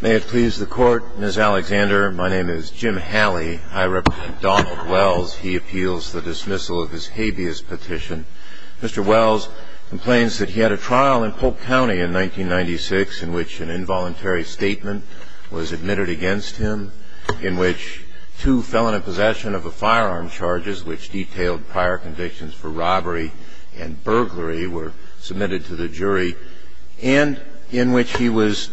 May it please the court, Ms. Alexander, my name is Jim Halley. I represent Donald Wells. He appeals the dismissal of his habeas petition. Mr. Wells complains that he had a trial in Polk County in 1996 in which an involuntary statement was admitted against him, in which two felon in possession of a firearm charges which detailed prior convictions for robbery and burglary were submitted to the jury, and in which he was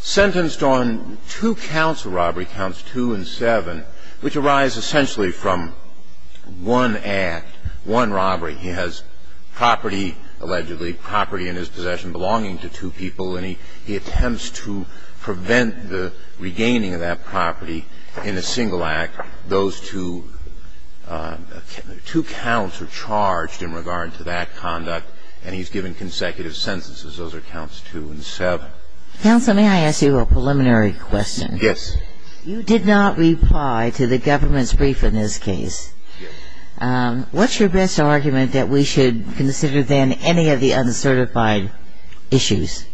sentenced on two counts of robbery, counts two and seven, which arise essentially from one act, one robbery. He has property, allegedly property in his possession belonging to two people, and he attempts to prevent the regaining of that property in a single act. Those two counts are charged in regard to that conduct, and he's given consecutive sentences. Those are counts two and seven. Counsel, may I ask you a preliminary question? Yes. You did not reply to the government's brief in this case. Yes. What's your best argument that we should consider then any of the uncertified issues?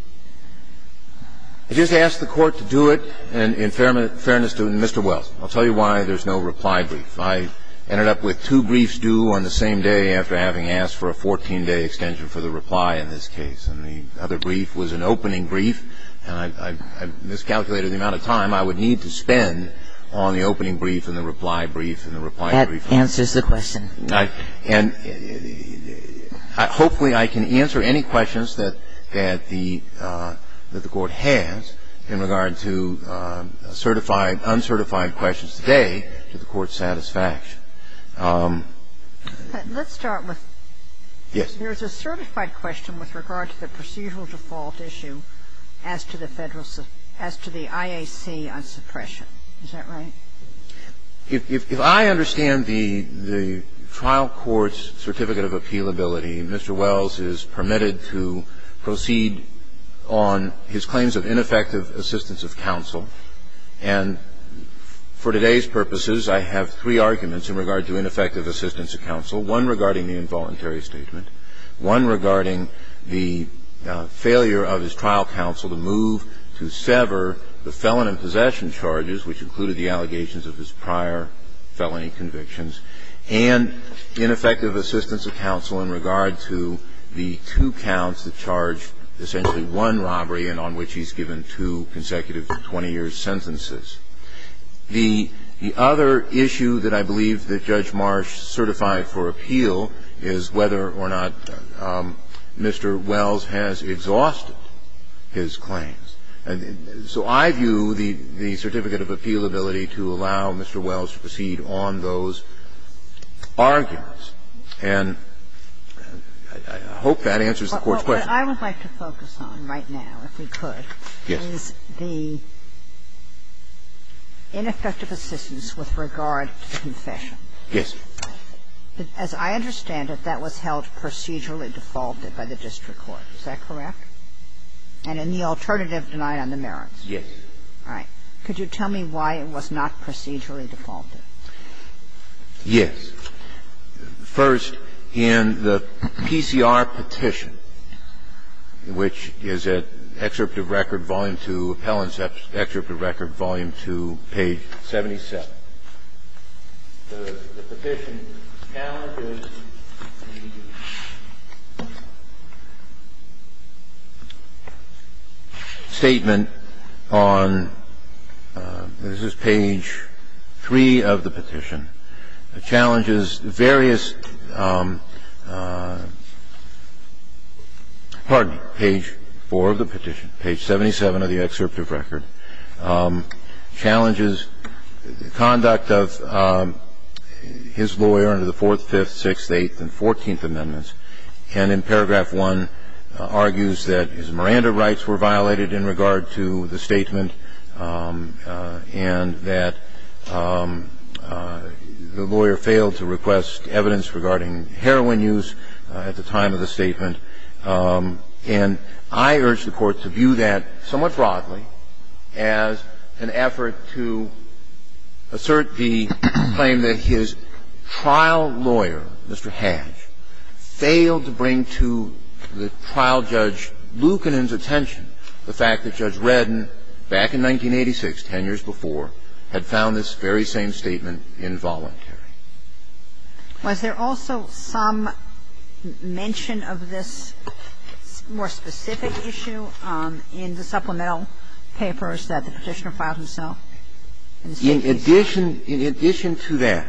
I just asked the Court to do it, and in fairness to Mr. Wells, I'll tell you why there's no reply brief. I ended up with two briefs due on the same day after having asked for a 14-day extension for the reply in this case. And the other brief was an opening brief, and I miscalculated the amount of time I would need to spend on the opening brief and the reply brief and the reply brief. That answers the question. And hopefully I can answer any questions that the Court has in regard to certified, uncertified questions today to the Court's satisfaction. Let's start with the certified question with regard to the procedural default issue as to the IAC on suppression. Is that right? If I understand the trial court's certificate of appealability, Mr. Wells is permitted to proceed on his claims of ineffective assistance of counsel. And for today's purposes, I have three arguments in regard to ineffective assistance of counsel, one regarding the involuntary statement, one regarding the failure of his trial counsel to move to sever the felon in possession charges, which included the allegations of his prior felony convictions, and ineffective assistance of counsel in regard to the two counts that charge essentially one robbery and on which he's given two consecutive 20-year sentences. The other issue that I believe that Judge Marsh certified for appeal is whether or not Mr. Wells has exhausted his claims. So I view the certificate of appealability to allow Mr. Wells to proceed on those arguments, and I hope that answers the Court's question. What I would like to focus on right now, if we could, is the ineffective assistance with regard to the confession. Yes. As I understand it, that was held procedurally defaulted by the district court. Is that correct? And in the alternative, denied on the merits. Yes. All right. Could you tell me why it was not procedurally defaulted? Yes. First, in the PCR petition, which is at Excerpt of Record, Volume 2, Helen's Excerpt of Record, Volume 2, page 77. The petition challenges the statement on this is page 3 of the petition. It challenges various – pardon me, page 4 of the petition, page 77 of the Excerpt of Record, challenges conduct of his lawyer under the Fourth, Fifth, Sixth, Eighth, and Fourteenth Amendments, and in paragraph 1 argues that his Miranda rights were violated in regard to the statement and that the lawyer failed to request evidence regarding heroin use at the time of the statement. And I urge the Court to view that somewhat broadly as an effort to assert the claim that his trial lawyer, Mr. Hatch, failed to bring to the trial judge, Lucanen's attention, the fact that Judge Redden, back in 1986, 10 years before, had found this very same statement involuntary. Was there also some mention of this more specific issue in the supplemental papers that the Petitioner filed himself? In addition to that,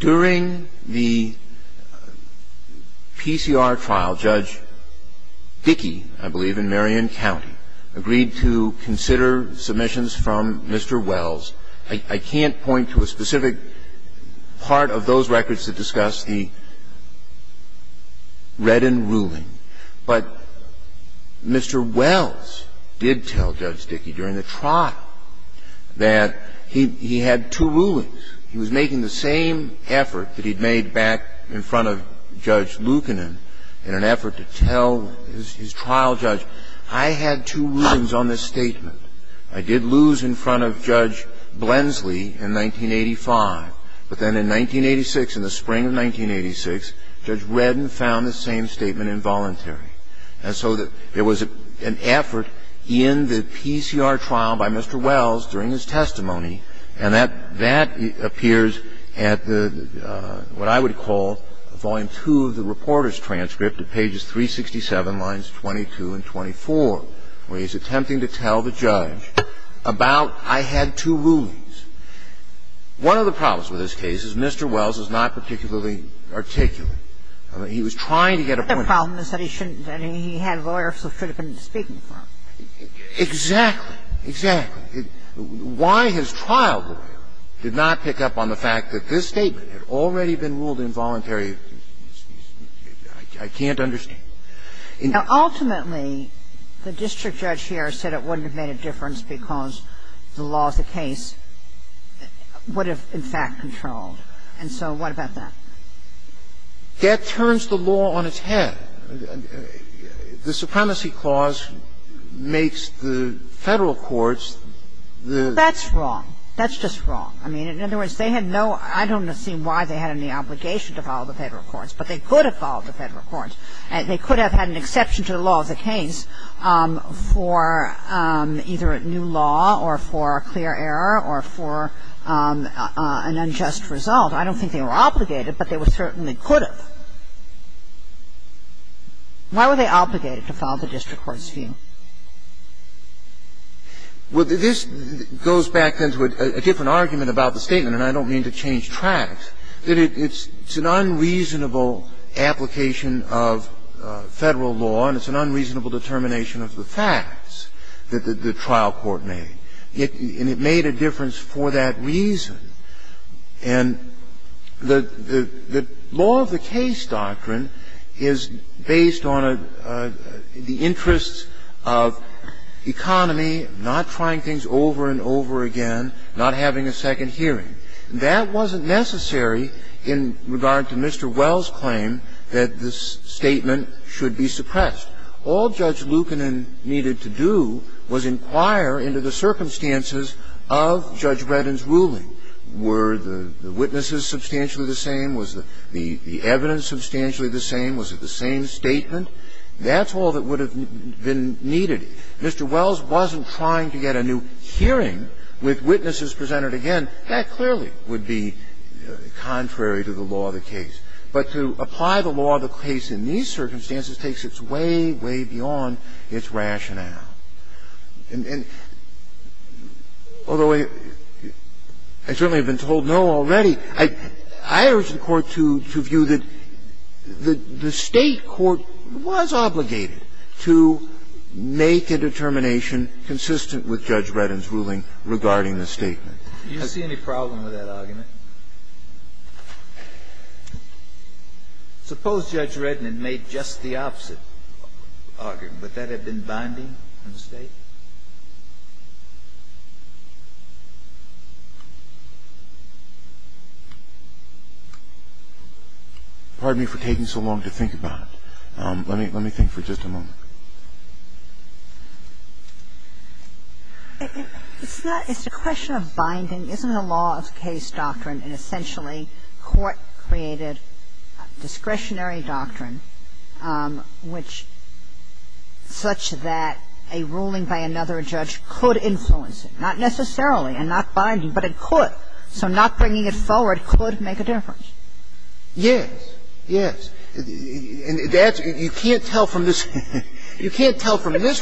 during the PCR trial, Judge Dickey, I believe, in Marion County, agreed to consider submissions from Mr. Wells. I can't point to a specific part of those records that discuss the Redden ruling, but Mr. Wells did tell Judge Dickey during the trial that he had two rulings. He was making the same effort that he'd made back in front of Judge Lucanen in an effort to tell his trial judge, I had two rulings on this statement. I did lose in front of Judge Blensley in 1985, but then in 1986, in the spring of 1986, Judge Redden found the same statement involuntary. And so there was an effort in the PCR trial by Mr. Wells during his testimony, and that appears at the, what I would call, Volume 2 of the reporter's transcript at pages 367, lines 22 and 24, where he's attempting to tell the judge about I had two rulings. One of the problems with this case is Mr. Wells is not particularly articulate. He was trying to get a point across. The problem is that he shouldn't. I mean, he had lawyers who should have been speaking for him. Exactly. Exactly. Why his trial lawyer did not pick up on the fact that this statement had already been ruled involuntary, I can't understand. Ultimately, the district judge here said it wouldn't have made a difference because the law of the case would have, in fact, controlled. And so what about that? That turns the law on its head. The Supremacy Clause makes the Federal courts the ---- That's wrong. That's just wrong. I mean, in other words, they had no ---- I don't see why they had any obligation to follow the Federal courts, but they could have followed the Federal courts. They could have had an exception to the law of the case for either a new law or for a clear error or for an unjust result. I don't think they were obligated, but they certainly could have. Why were they obligated to follow the district court scheme? Well, this goes back then to a different argument about the statement, and I don't mean to change tracks, that it's an unreasonable application of Federal law and it's an unreasonable determination of the facts that the trial court made. And it made a difference for that reason. And the law of the case doctrine is based on the interests of economy, not trying things over and over again, not having a second hearing. That wasn't necessary in regard to Mr. Wells' claim that the statement should be suppressed. All Judge Lukanen needed to do was inquire into the circumstances of Judge Breden's case, were the witnesses substantially the same, was the evidence substantially the same, was it the same statement. That's all that would have been needed. Mr. Wells wasn't trying to get a new hearing with witnesses presented again. That clearly would be contrary to the law of the case. But to apply the law of the case in these circumstances takes its way, way beyond its rationale. And although I certainly have been told no already, I urge the Court to view that the State court was obligated to make a determination consistent with Judge Breden's ruling regarding the statement. Do you see any problem with that argument? Suppose Judge Breden had made just the opposite argument. Would that have been binding on the State? Pardon me for taking so long to think about it. Let me think for just a moment. It's a question of binding. Isn't a law of case doctrine an essentially court-created discretionary doctrine, which such that a ruling by another judge could influence it? Not necessarily and not binding, but it could. So not bringing it forward could make a difference. Yes. Yes. And that's you can't tell from this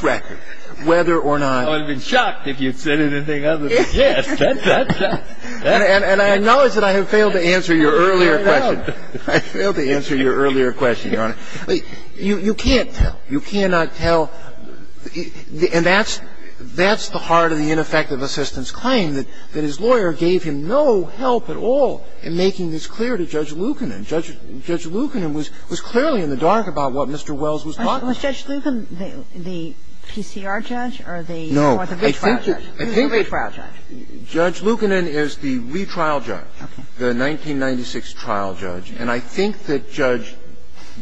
record whether or not. I would have been shocked if you had said anything other than yes. That's a fact. And I know that I have failed to answer your earlier question. I failed to answer your earlier question, Your Honor. You can't tell. You cannot tell. And that's the heart of the ineffective assistance claim, that his lawyer gave him no help at all in making this clear to Judge Lukanen. Judge Lukanen was clearly in the dark about what Mr. Wells was talking about. Was Judge Lukanen the PCR judge or the retrial judge? No. I think that Judge Lukanen is the retrial judge, the 1996 trial judge. And I think that Judge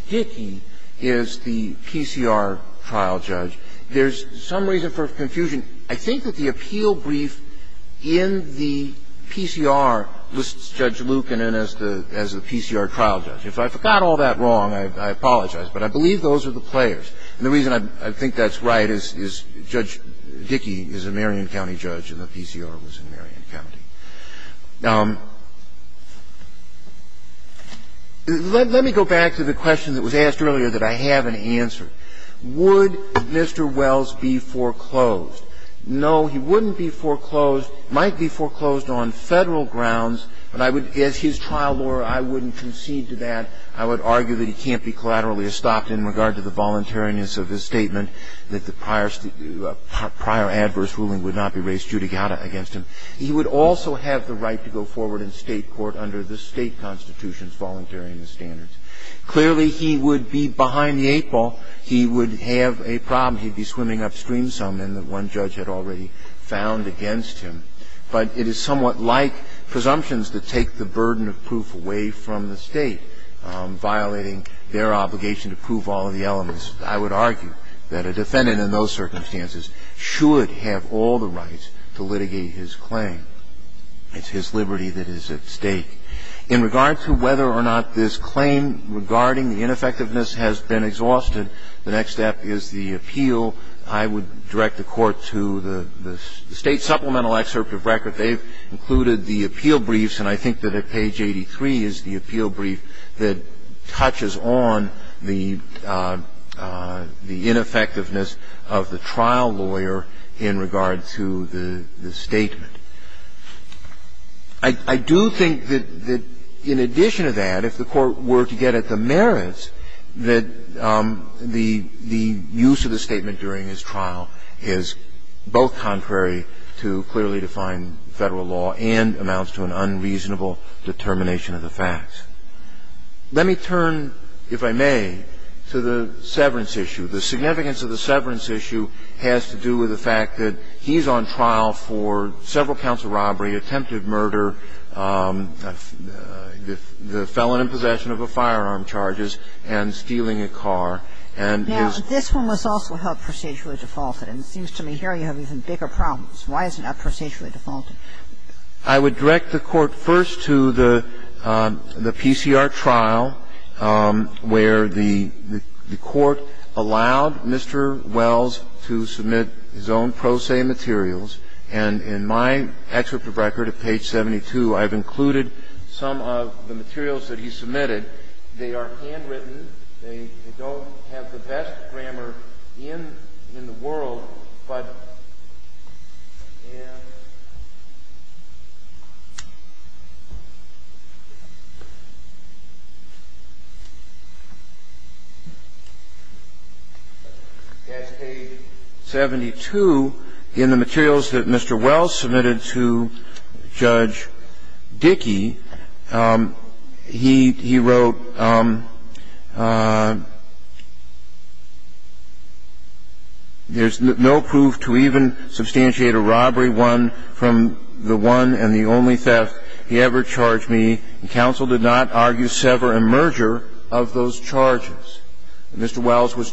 Dickey is the PCR trial judge. There's some reason for confusion. I think that the appeal brief in the PCR lists Judge Lukanen as the PCR trial judge. If I forgot all that wrong, I apologize. But I believe those are the players. And the reason I think that's right is Judge Dickey is a Marion County judge and the PCR was in Marion County. Let me go back to the question that was asked earlier that I haven't answered. Would Mr. Wells be foreclosed? No, he wouldn't be foreclosed, might be foreclosed on Federal grounds, but I would as his trial lawyer, I wouldn't concede to that. I would argue that he can't be collaterally estopped in regard to the voluntariness of his statement that the prior adverse ruling would not be raised judicata against him. He would also have the right to go forward in State court under the State constitution's voluntariness standards. Clearly, he would be behind the eight ball. He would have a problem. He'd be swimming upstream some and the one judge had already found against him. But it is somewhat like presumptions that take the burden of proof away from the State, violating their obligation to prove all of the elements. I would argue that a defendant in those circumstances should have all the rights to litigate his claim. It's his liberty that is at stake. In regard to whether or not this claim regarding the ineffectiveness has been exhausted, the next step is the appeal. I would direct the Court to the State supplemental excerpt of record. They've included the appeal briefs, and I think that at page 83 is the appeal brief that touches on the ineffectiveness of the trial lawyer in regard to the statement. I do think that in addition to that, if the Court were to get at the merits, that the use of the statement during his trial is both contrary to clearly defined federal law and amounts to an unreasonable determination of the facts. Let me turn, if I may, to the severance issue. The significance of the severance issue has to do with the fact that he's on trial for several counts of robbery, attempted murder, the felon in possession of a firearm charges, and stealing a car, and his ---- Now, this one was also held procedurally defaulted, and it seems to me here you have even bigger problems. Why is it not procedurally defaulted? I would direct the Court first to the PCR trial where the Court allowed Mr. Wells to submit his own pro se materials, and in my excerpt of record at page 72, I've included some of the materials that he submitted. They are handwritten. They don't have the best grammar in the world, but in ---- At page 72, in the materials that Mr. Wells submitted to Judge Dickey, he wrote, Mr. Wells was ---- It seems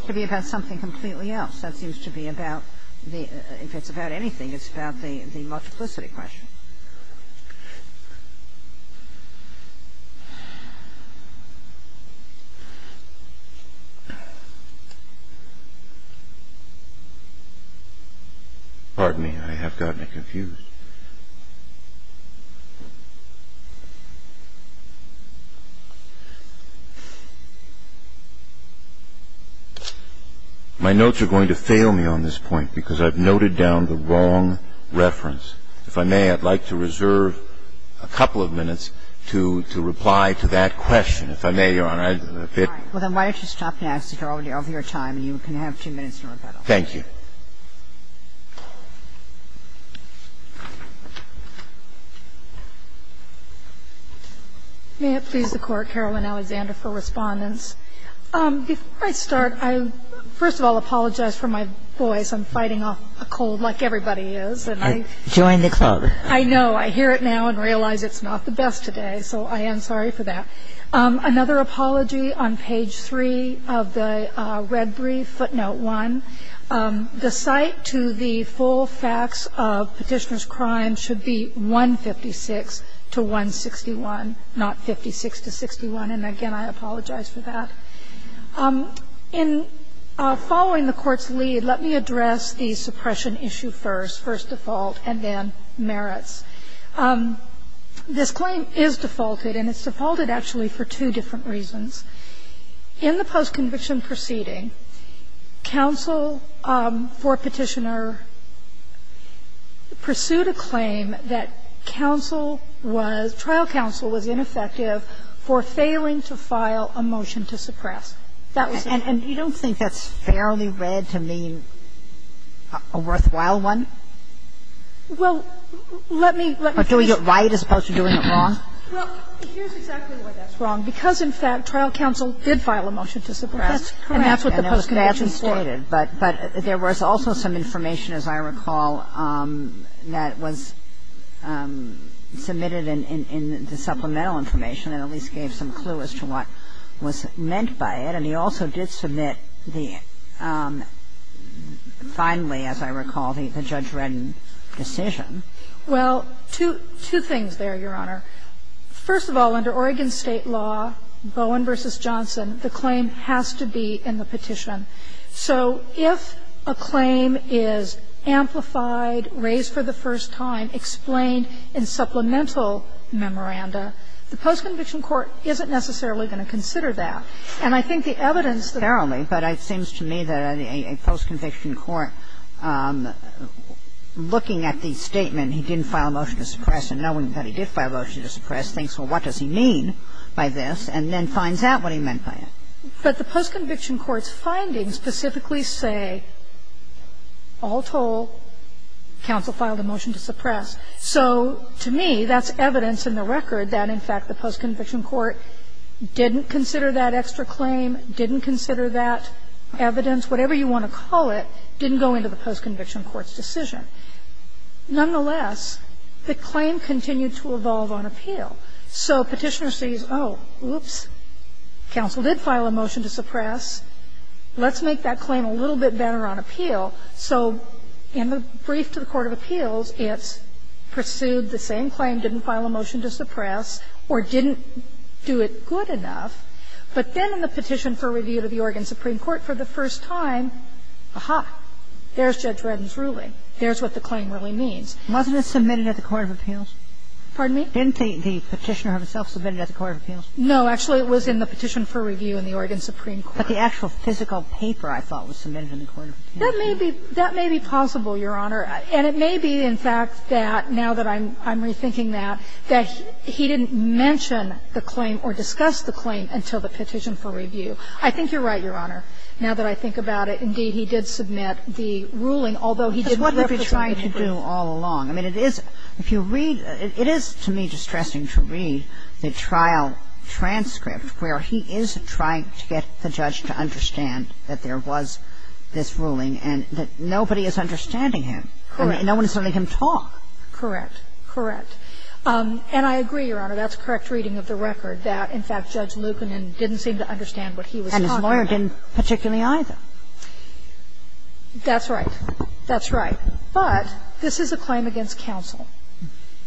to be about something completely else. That seems to be about the ---- if it's about anything, it's about the multiplicity question. Pardon me. I have gotten it confused. My notes are going to fail me on this point because I've noted down the wrong reference. If I may, I'd like to reserve a couple of minutes to reply to that question. If I may, Your Honor, I've been a bit ---- All right. Well, then why don't you stop now, because you're already over your time and you can have two minutes in rebuttal. Thank you. May it please the Court, Carolyn Alexander for Respondents. Before I start, I first of all apologize for my voice. I'm fighting off a cold like everybody is. Join the club. I know. I hear it now and realize it's not the best today, so I am sorry for that. Another apology on page 3 of the red brief, footnote 1. The cite to the full facts of Petitioner's crime should be 156 to 161, not 56 to 61. And again, I apologize for that. In following the Court's lead, let me address the suppression issue first, first default, and then merits. This claim is defaulted, and it's defaulted actually for two different reasons. In the post-conviction proceeding, counsel for Petitioner pursued a claim that counsel was, trial counsel was ineffective for failing to file a motion to suppress. That was it. And you don't think that's fairly read to mean a worthwhile one? Well, let me, let me finish. Or doing it right as opposed to doing it wrong? Well, here's exactly why that's wrong. Because, in fact, trial counsel did file a motion to suppress. That's correct. And that's what the post-conviction stated. But there was also some information, as I recall, that was submitted in the supplemental information that at least gave some clue as to what was meant by it. And he also did submit the, finally, as I recall, the Judge Redden decision. Well, two things there, Your Honor. First of all, under Oregon State law, Bowen v. Johnson, the claim has to be in the post-conviction court. So if a claim is amplified, raised for the first time, explained in supplemental memoranda, the post-conviction court isn't necessarily going to consider that. And I think the evidence that the post-conviction court, looking at the statement he didn't file a motion to suppress and knowing that he did file a motion to suppress, thinks, well, what does he mean by this? And then finds out what he meant by it. But the post-conviction court's findings specifically say, all told, counsel filed a motion to suppress. So to me, that's evidence in the record that, in fact, the post-conviction court didn't consider that extra claim, didn't consider that evidence, whatever you want to call it, didn't go into the post-conviction court's decision. Nonetheless, the claim continued to evolve on appeal. So Petitioner sees, oh, whoops, counsel did file a motion to suppress. Let's make that claim a little bit better on appeal. So in the brief to the court of appeals, it's pursued the same claim, didn't file a motion to suppress, or didn't do it good enough. But then in the petition for review to the Oregon Supreme Court for the first time, ah-ha, there's Judge Redden's ruling. There's what the claim really means. Kagan. to the court of appeals. Kagan. No, actually, it was in the petition for review in the Oregon Supreme Court. But the actual physical paper, I thought, was submitted in the court of appeals. That may be – that may be possible, Your Honor. And it may be, in fact, that now that I'm rethinking that, that he didn't mention the claim or discuss the claim until the petition for review. I think you're right, Your Honor, now that I think about it. Indeed, he did submit the ruling, although he didn't refer to it in the brief. Kagan. Because what have you been trying to do all along? I mean, it is – if you read – it is, to me, distressing to read the trial transcript where he is trying to get the judge to understand that there was this ruling and that nobody is understanding him. Correct. I mean, no one is letting him talk. Correct. Correct. And I agree, Your Honor, that's correct reading of the record, that, in fact, Judge Lucanen didn't seem to understand what he was talking about. And his lawyer didn't particularly either. That's right. That's right. But this is a claim against counsel.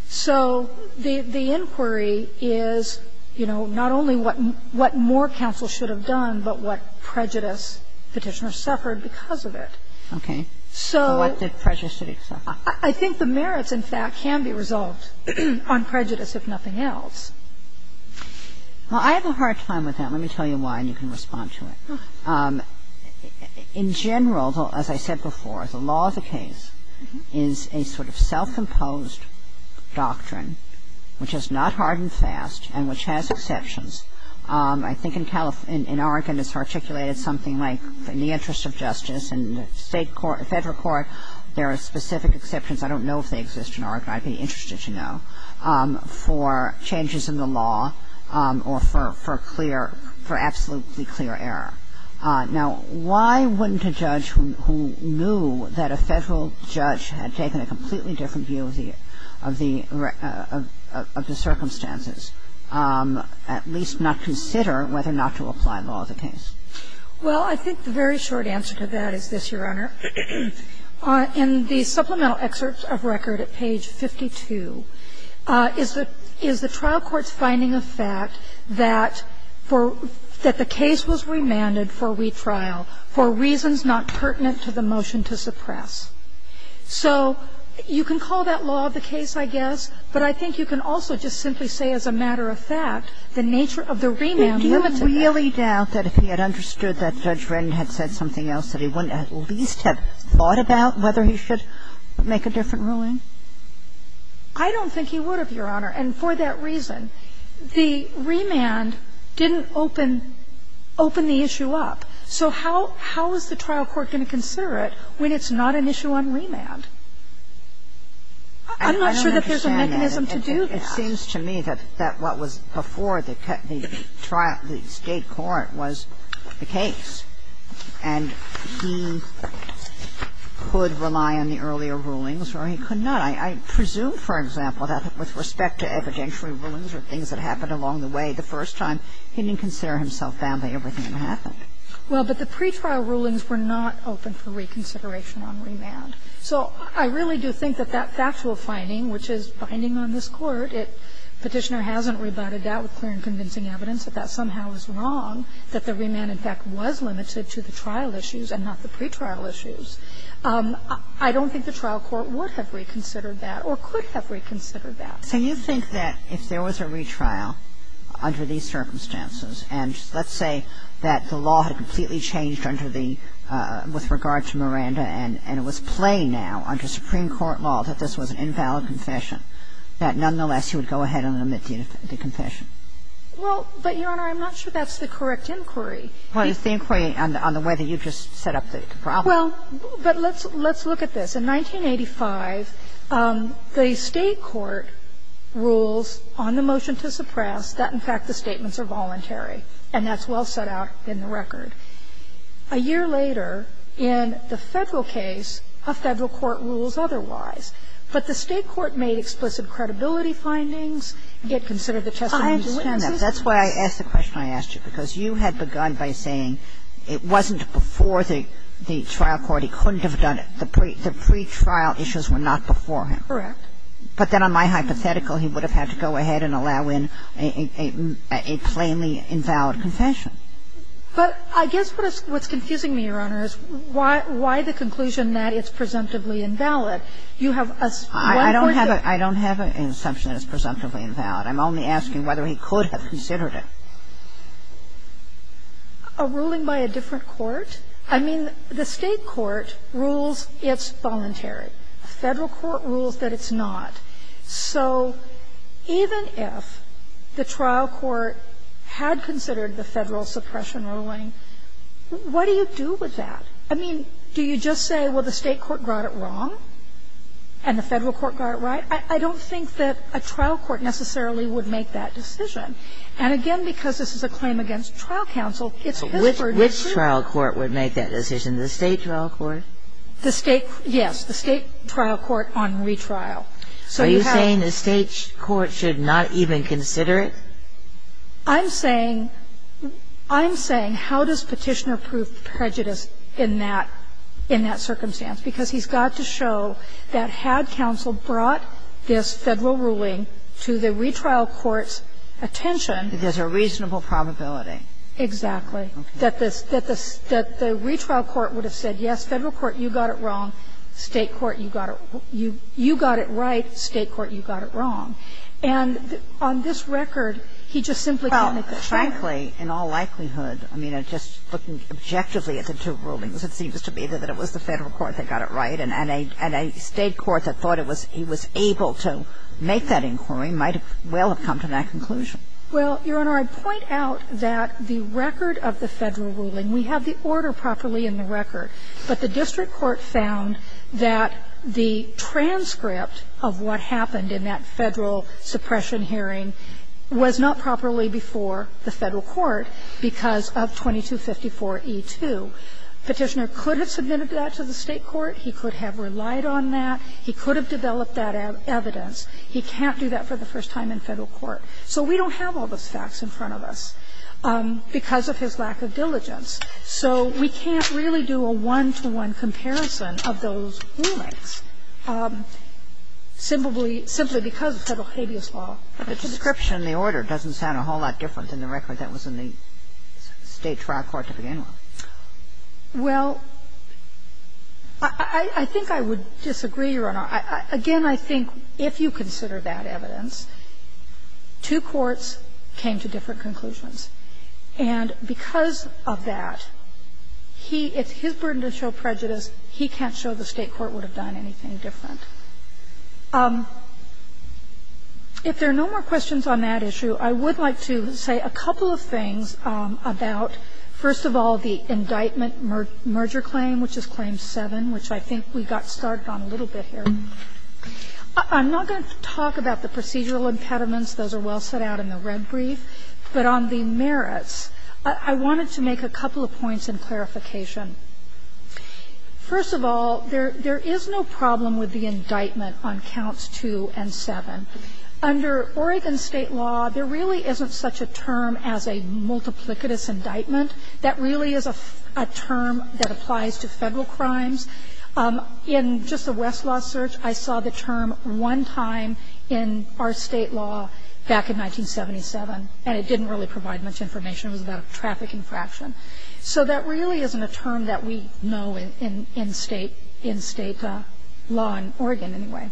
So the inquiry is, you know, not only what more counsel should have done, but what prejudice Petitioner suffered because of it. Okay. So what did prejudice suffer? I think the merits, in fact, can be resolved on prejudice, if nothing else. Well, I have a hard time with that. Let me tell you why, and you can respond to it. In general, as I said before, the law of the case is a sort of self-imposed doctrine, which is not hard and fast and which has exceptions. I think in Oregon it's articulated something like, in the interest of justice and state court – federal court, there are specific exceptions. I don't know if they exist in Oregon. I'd be interested to know. So the question is, why wouldn't a judge who knew that a federal judge had taken a completely different view of the circumstances, at least not consider whether not to apply law of the case? Well, I think the very short answer to that is this, Your Honor. In the supplemental excerpt of record at page 52 is the trial court's finding of fact that for – that the case was remanded for retrial for reasons not pertinent to the motion to suppress. So you can call that law of the case, I guess, but I think you can also just simply say, as a matter of fact, the nature of the remand limited that. Do you really doubt that if he had understood that Judge Wren had said something else that he wouldn't at least have thought about whether he should make a different ruling? I don't think he would have, Your Honor, and for that reason. The remand didn't open – open the issue up. So how is the trial court going to consider it when it's not an issue on remand? I'm not sure that there's a mechanism to do that. I don't understand that. It seems to me that what was before the trial – the state court was the case. And he could rely on the earlier rulings or he could not. I presume, for example, that with respect to evidentiary rulings or things that happened along the way the first time, he didn't consider himself bound by everything that happened. Well, but the pretrial rulings were not open for reconsideration on remand. So I really do think that that factual finding, which is binding on this Court, it – Petitioner hasn't rebutted that with clear and convincing evidence that that was an invalid confession. I don't think the trial court would have reconsidered that or could have reconsidered that. So you think that if there was a retrial under these circumstances, and let's say that the law had completely changed under the – with regard to Miranda and it was plain now under Supreme Court law that this was an invalid confession, that nonetheless he would go ahead and omit the confession? Well, but, Your Honor, I'm not sure that's the correct inquiry. Well, it's the inquiry on the way that you just set up the problem. Well, but let's look at this. In 1985, the State court rules on the motion to suppress that, in fact, the statements are voluntary, and that's well set out in the record. A year later, in the Federal case, a Federal court rules otherwise. But the State court made explicit credibility findings. It considered the testimony of the witnesses. That's why I asked the question I asked you, because you had begun by saying it wasn't before the trial court, he couldn't have done it. The pretrial issues were not before him. Correct. But then on my hypothetical, he would have had to go ahead and allow in a plainly invalid confession. But I guess what is – what's confusing me, Your Honor, is why the conclusion that it's presumptively invalid. You have a one-pointed – I don't have an assumption that it's presumptively invalid. I'm only asking whether he could have considered it. A ruling by a different court? I mean, the State court rules it's voluntary. A Federal court rules that it's not. So even if the trial court had considered the Federal suppression ruling, what do you do with that? I mean, do you just say, well, the State court got it wrong and the Federal court got it right? I don't think that a trial court necessarily would make that decision. And again, because this is a claim against trial counsel, it's his verdict. Which trial court would make that decision? The State trial court? The State – yes, the State trial court on retrial. So you have – Are you saying the State court should not even consider it? I'm saying – I'm saying how does Petitioner prove prejudice in that – in that this Federal ruling to the retrial court's attention – That there's a reasonable probability. Exactly. That the retrial court would have said, yes, Federal court, you got it wrong. State court, you got it – you got it right. State court, you got it wrong. And on this record, he just simply can't make a decision. Well, frankly, in all likelihood, I mean, just looking objectively at the two rulings, it seems to me that it was the Federal court that got it right and a State court that thought it was – he was able to make that inquiry might have – well, have come to that conclusion. Well, Your Honor, I'd point out that the record of the Federal ruling, we have the order properly in the record, but the district court found that the transcript of what happened in that Federal suppression hearing was not properly before the Federal court because of 2254e2. Petitioner could have submitted that to the State court. He could have relied on that. He could have developed that evidence. He can't do that for the first time in Federal court. So we don't have all those facts in front of us because of his lack of diligence. So we can't really do a one-to-one comparison of those rulings simply because of Federal habeas law. The description in the order doesn't sound a whole lot different than the record that was in the State trial court to begin with. Well, I think I would disagree, Your Honor. Again, I think if you consider that evidence, two courts came to different conclusions. And because of that, he – it's his burden to show prejudice. He can't show the State court would have done anything different. If there are no more questions on that issue, I would like to say a couple of things about, first of all, the indictment merger claim, which is claim 7, which I think we got started on a little bit here. I'm not going to talk about the procedural impediments. Those are well set out in the red brief. But on the merits, I wanted to make a couple of points in clarification. First of all, there is no problem with the indictment on counts 2 and 7. Under Oregon State law, there really isn't such a term as a multiplicitous indictment. That really is a term that applies to Federal crimes. In just the Westlaw search, I saw the term one time in our State law back in 1977, and it didn't really provide much information. It was about a traffic infraction. So that really isn't a term that we know in State law in Oregon anyway.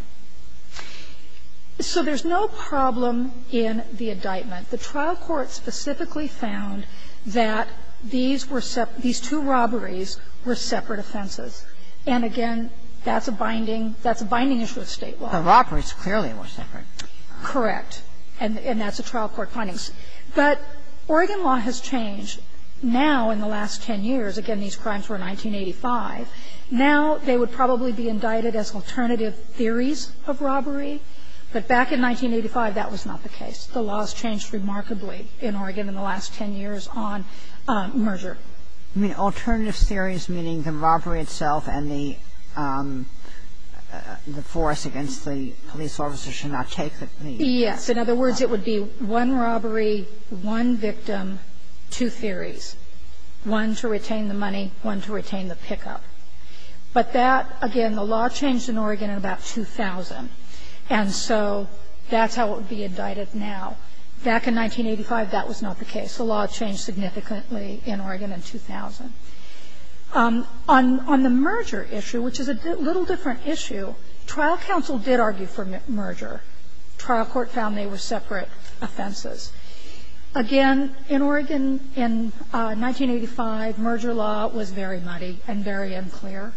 So there's no problem in the indictment. The trial court specifically found that these were separate – these two robberies were separate offenses. And, again, that's a binding – that's a binding issue of State law. Kagan Correct. And that's a trial court finding. But Oregon law has changed. Now, in the last 10 years, again, these crimes were in 1985, now they would probably be indicted as alternative theories of robbery. But back in 1985, that was not the case. The laws changed remarkably in Oregon in the last 10 years on merger. Kagan Alternative theories meaning the robbery itself and the force against the police officer should not take the – Kagan Yes. In other words, it would be one robbery, one victim, two theories, one to retain the money, one to retain the pickup. But that, again, the law changed in Oregon in about 2000. And so that's how it would be indicted now. Back in 1985, that was not the case. The law changed significantly in Oregon in 2000. On the merger issue, which is a little different issue, trial counsel did argue for merger. Trial court found they were separate offenses. Again, in Oregon in 1985, merger law was very muddy and very unclear.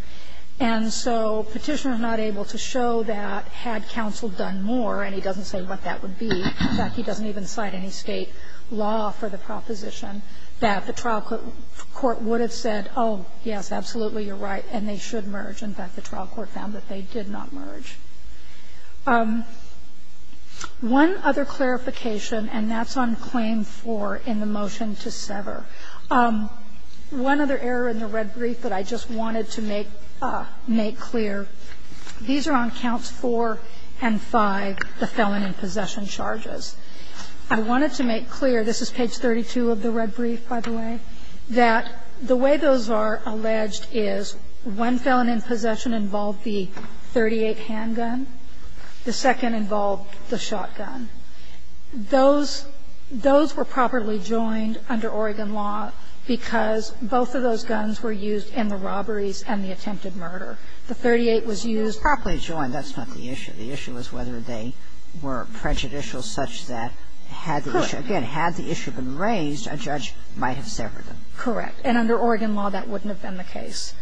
And so Petitioner was not able to show that had counsel done more, and he doesn't say what that would be, in fact, he doesn't even cite any State law for the proposition, that the trial court would have said, oh, yes, absolutely, you're right, and they should merge. In fact, the trial court found that they did not merge. One other clarification, and that's on Claim 4 in the motion to sever, one other error in the red brief that I just wanted to make clear, these are on counts 4 and 5, the felon in possession charges. I wanted to make clear, this is page 32 of the red brief, by the way, that the way those are alleged is one felon in possession involved the .38 handgun, the second involved the shotgun. Those were properly joined under Oregon law because both of those guns were used in the robberies and the attempted murder. The .38 was used to properly join. That's not the issue. The issue is whether they were prejudicial such that had the issue been raised, a judge might have severed them. Correct. And under Oregon law, that wouldn't have been the case,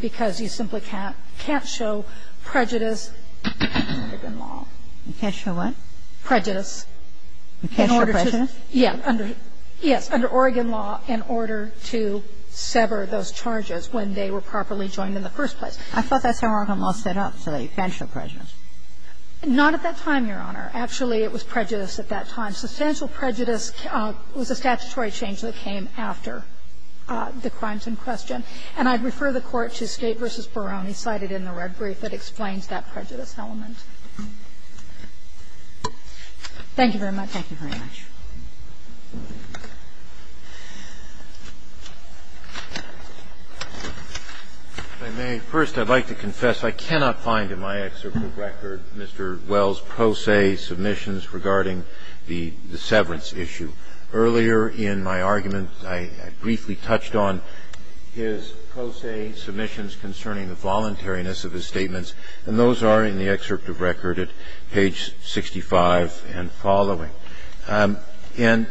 because you simply can't show prejudice under Oregon law. You can't show what? Prejudice. You can't show prejudice? Yes, under Oregon law, in order to sever those charges when they were properly joined in the first place. I thought that's how Oregon law set up, so that you can't show prejudice. Not at that time, Your Honor. Actually, it was prejudice at that time. Substantial prejudice was a statutory change that came after the crimes in question. And I'd refer the Court to Skate v. Barone, cited in the red brief, that explains that prejudice element. Thank you very much. Thank you very much. If I may, first, I'd like to confess I cannot find in my excerpt of record Mr. Wells' post-A submissions regarding the severance issue. Earlier in my argument, I briefly touched on his post-A submissions concerning the voluntariness of his statements, and those are in the excerpt of record at page 65 and following. And in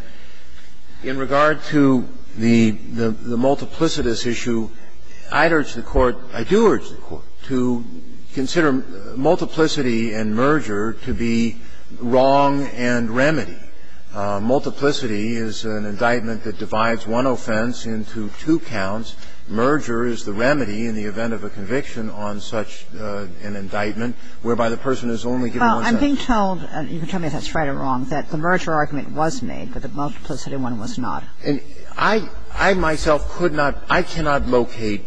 regard to the multiplicitous issue, I'd urge the Court, I do urge the Court to consider multiplicity and merger to be wrong and remedy. Multiplicity is an indictment that divides one offense into two counts. Merger is the remedy in the event of a conviction on such an indictment, whereby the person is only given one sentence. Well, I'm being told, and you can tell me if that's right or wrong, that the merger argument was made, but the multiplicity one was not. And I myself could not – I cannot locate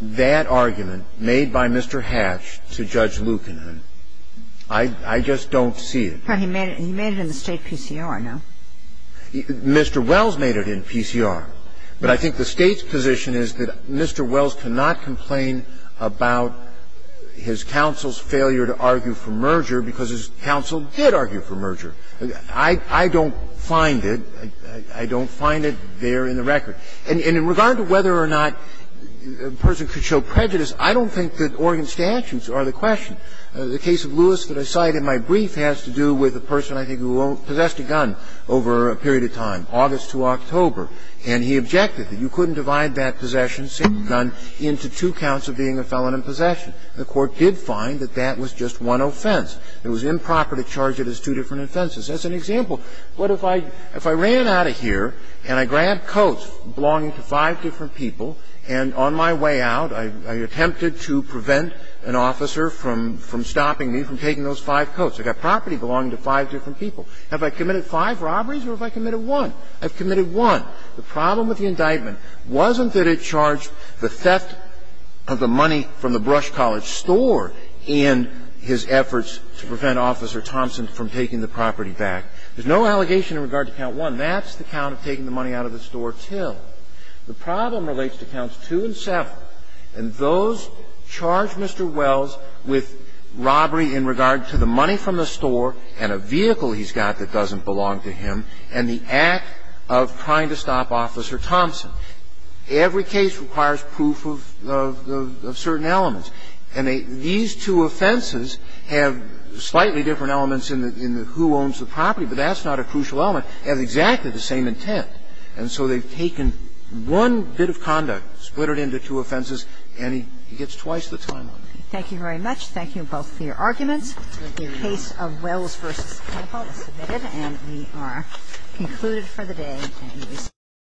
that argument made by Mr. Hatch to Judge Lucan. I just don't see it. He made it in the State PCR, no? Mr. Wells made it in PCR. But I think the State's position is that Mr. Wells cannot complain about his counsel's failure to argue for merger because his counsel did argue for merger. I don't find it. I don't find it there in the record. And in regard to whether or not a person could show prejudice, I don't think that Oregon statutes are the question. The case of Lewis that I cite in my brief has to do with a person, I think, who possessed a gun over a period of time, August to October, and he objected that you couldn't divide that possession, same gun, into two counts of being a felon in possession. The Court did find that that was just one offense. It was improper to charge it as two different offenses. That's an example. But if I ran out of here and I grabbed coats belonging to five different people, and on my way out I attempted to prevent an officer from stopping me from taking those five coats. I've got property belonging to five different people. Have I committed five robberies or have I committed one? I've committed one. The problem with the indictment wasn't that it charged the theft of the money from the Brush College store in his efforts to prevent Officer Thompson from taking the property back. There's no allegation in regard to count one. That's the count of taking the money out of the store till. The problem relates to counts two and seven, and those charge Mr. Wells with robbery in regard to the money from the store and a vehicle he's got that doesn't belong to him and the act of trying to stop Officer Thompson. Every case requires proof of certain elements. And these two offenses have slightly different elements in the who owns the property, but that's not a crucial element. They have exactly the same intent. And so they've taken one bit of conduct, split it into two offenses, and he gets twice the time off. Thank you very much. Thank you both for your arguments. The case of Wells v. Campbell is submitted, and we are concluded for the day.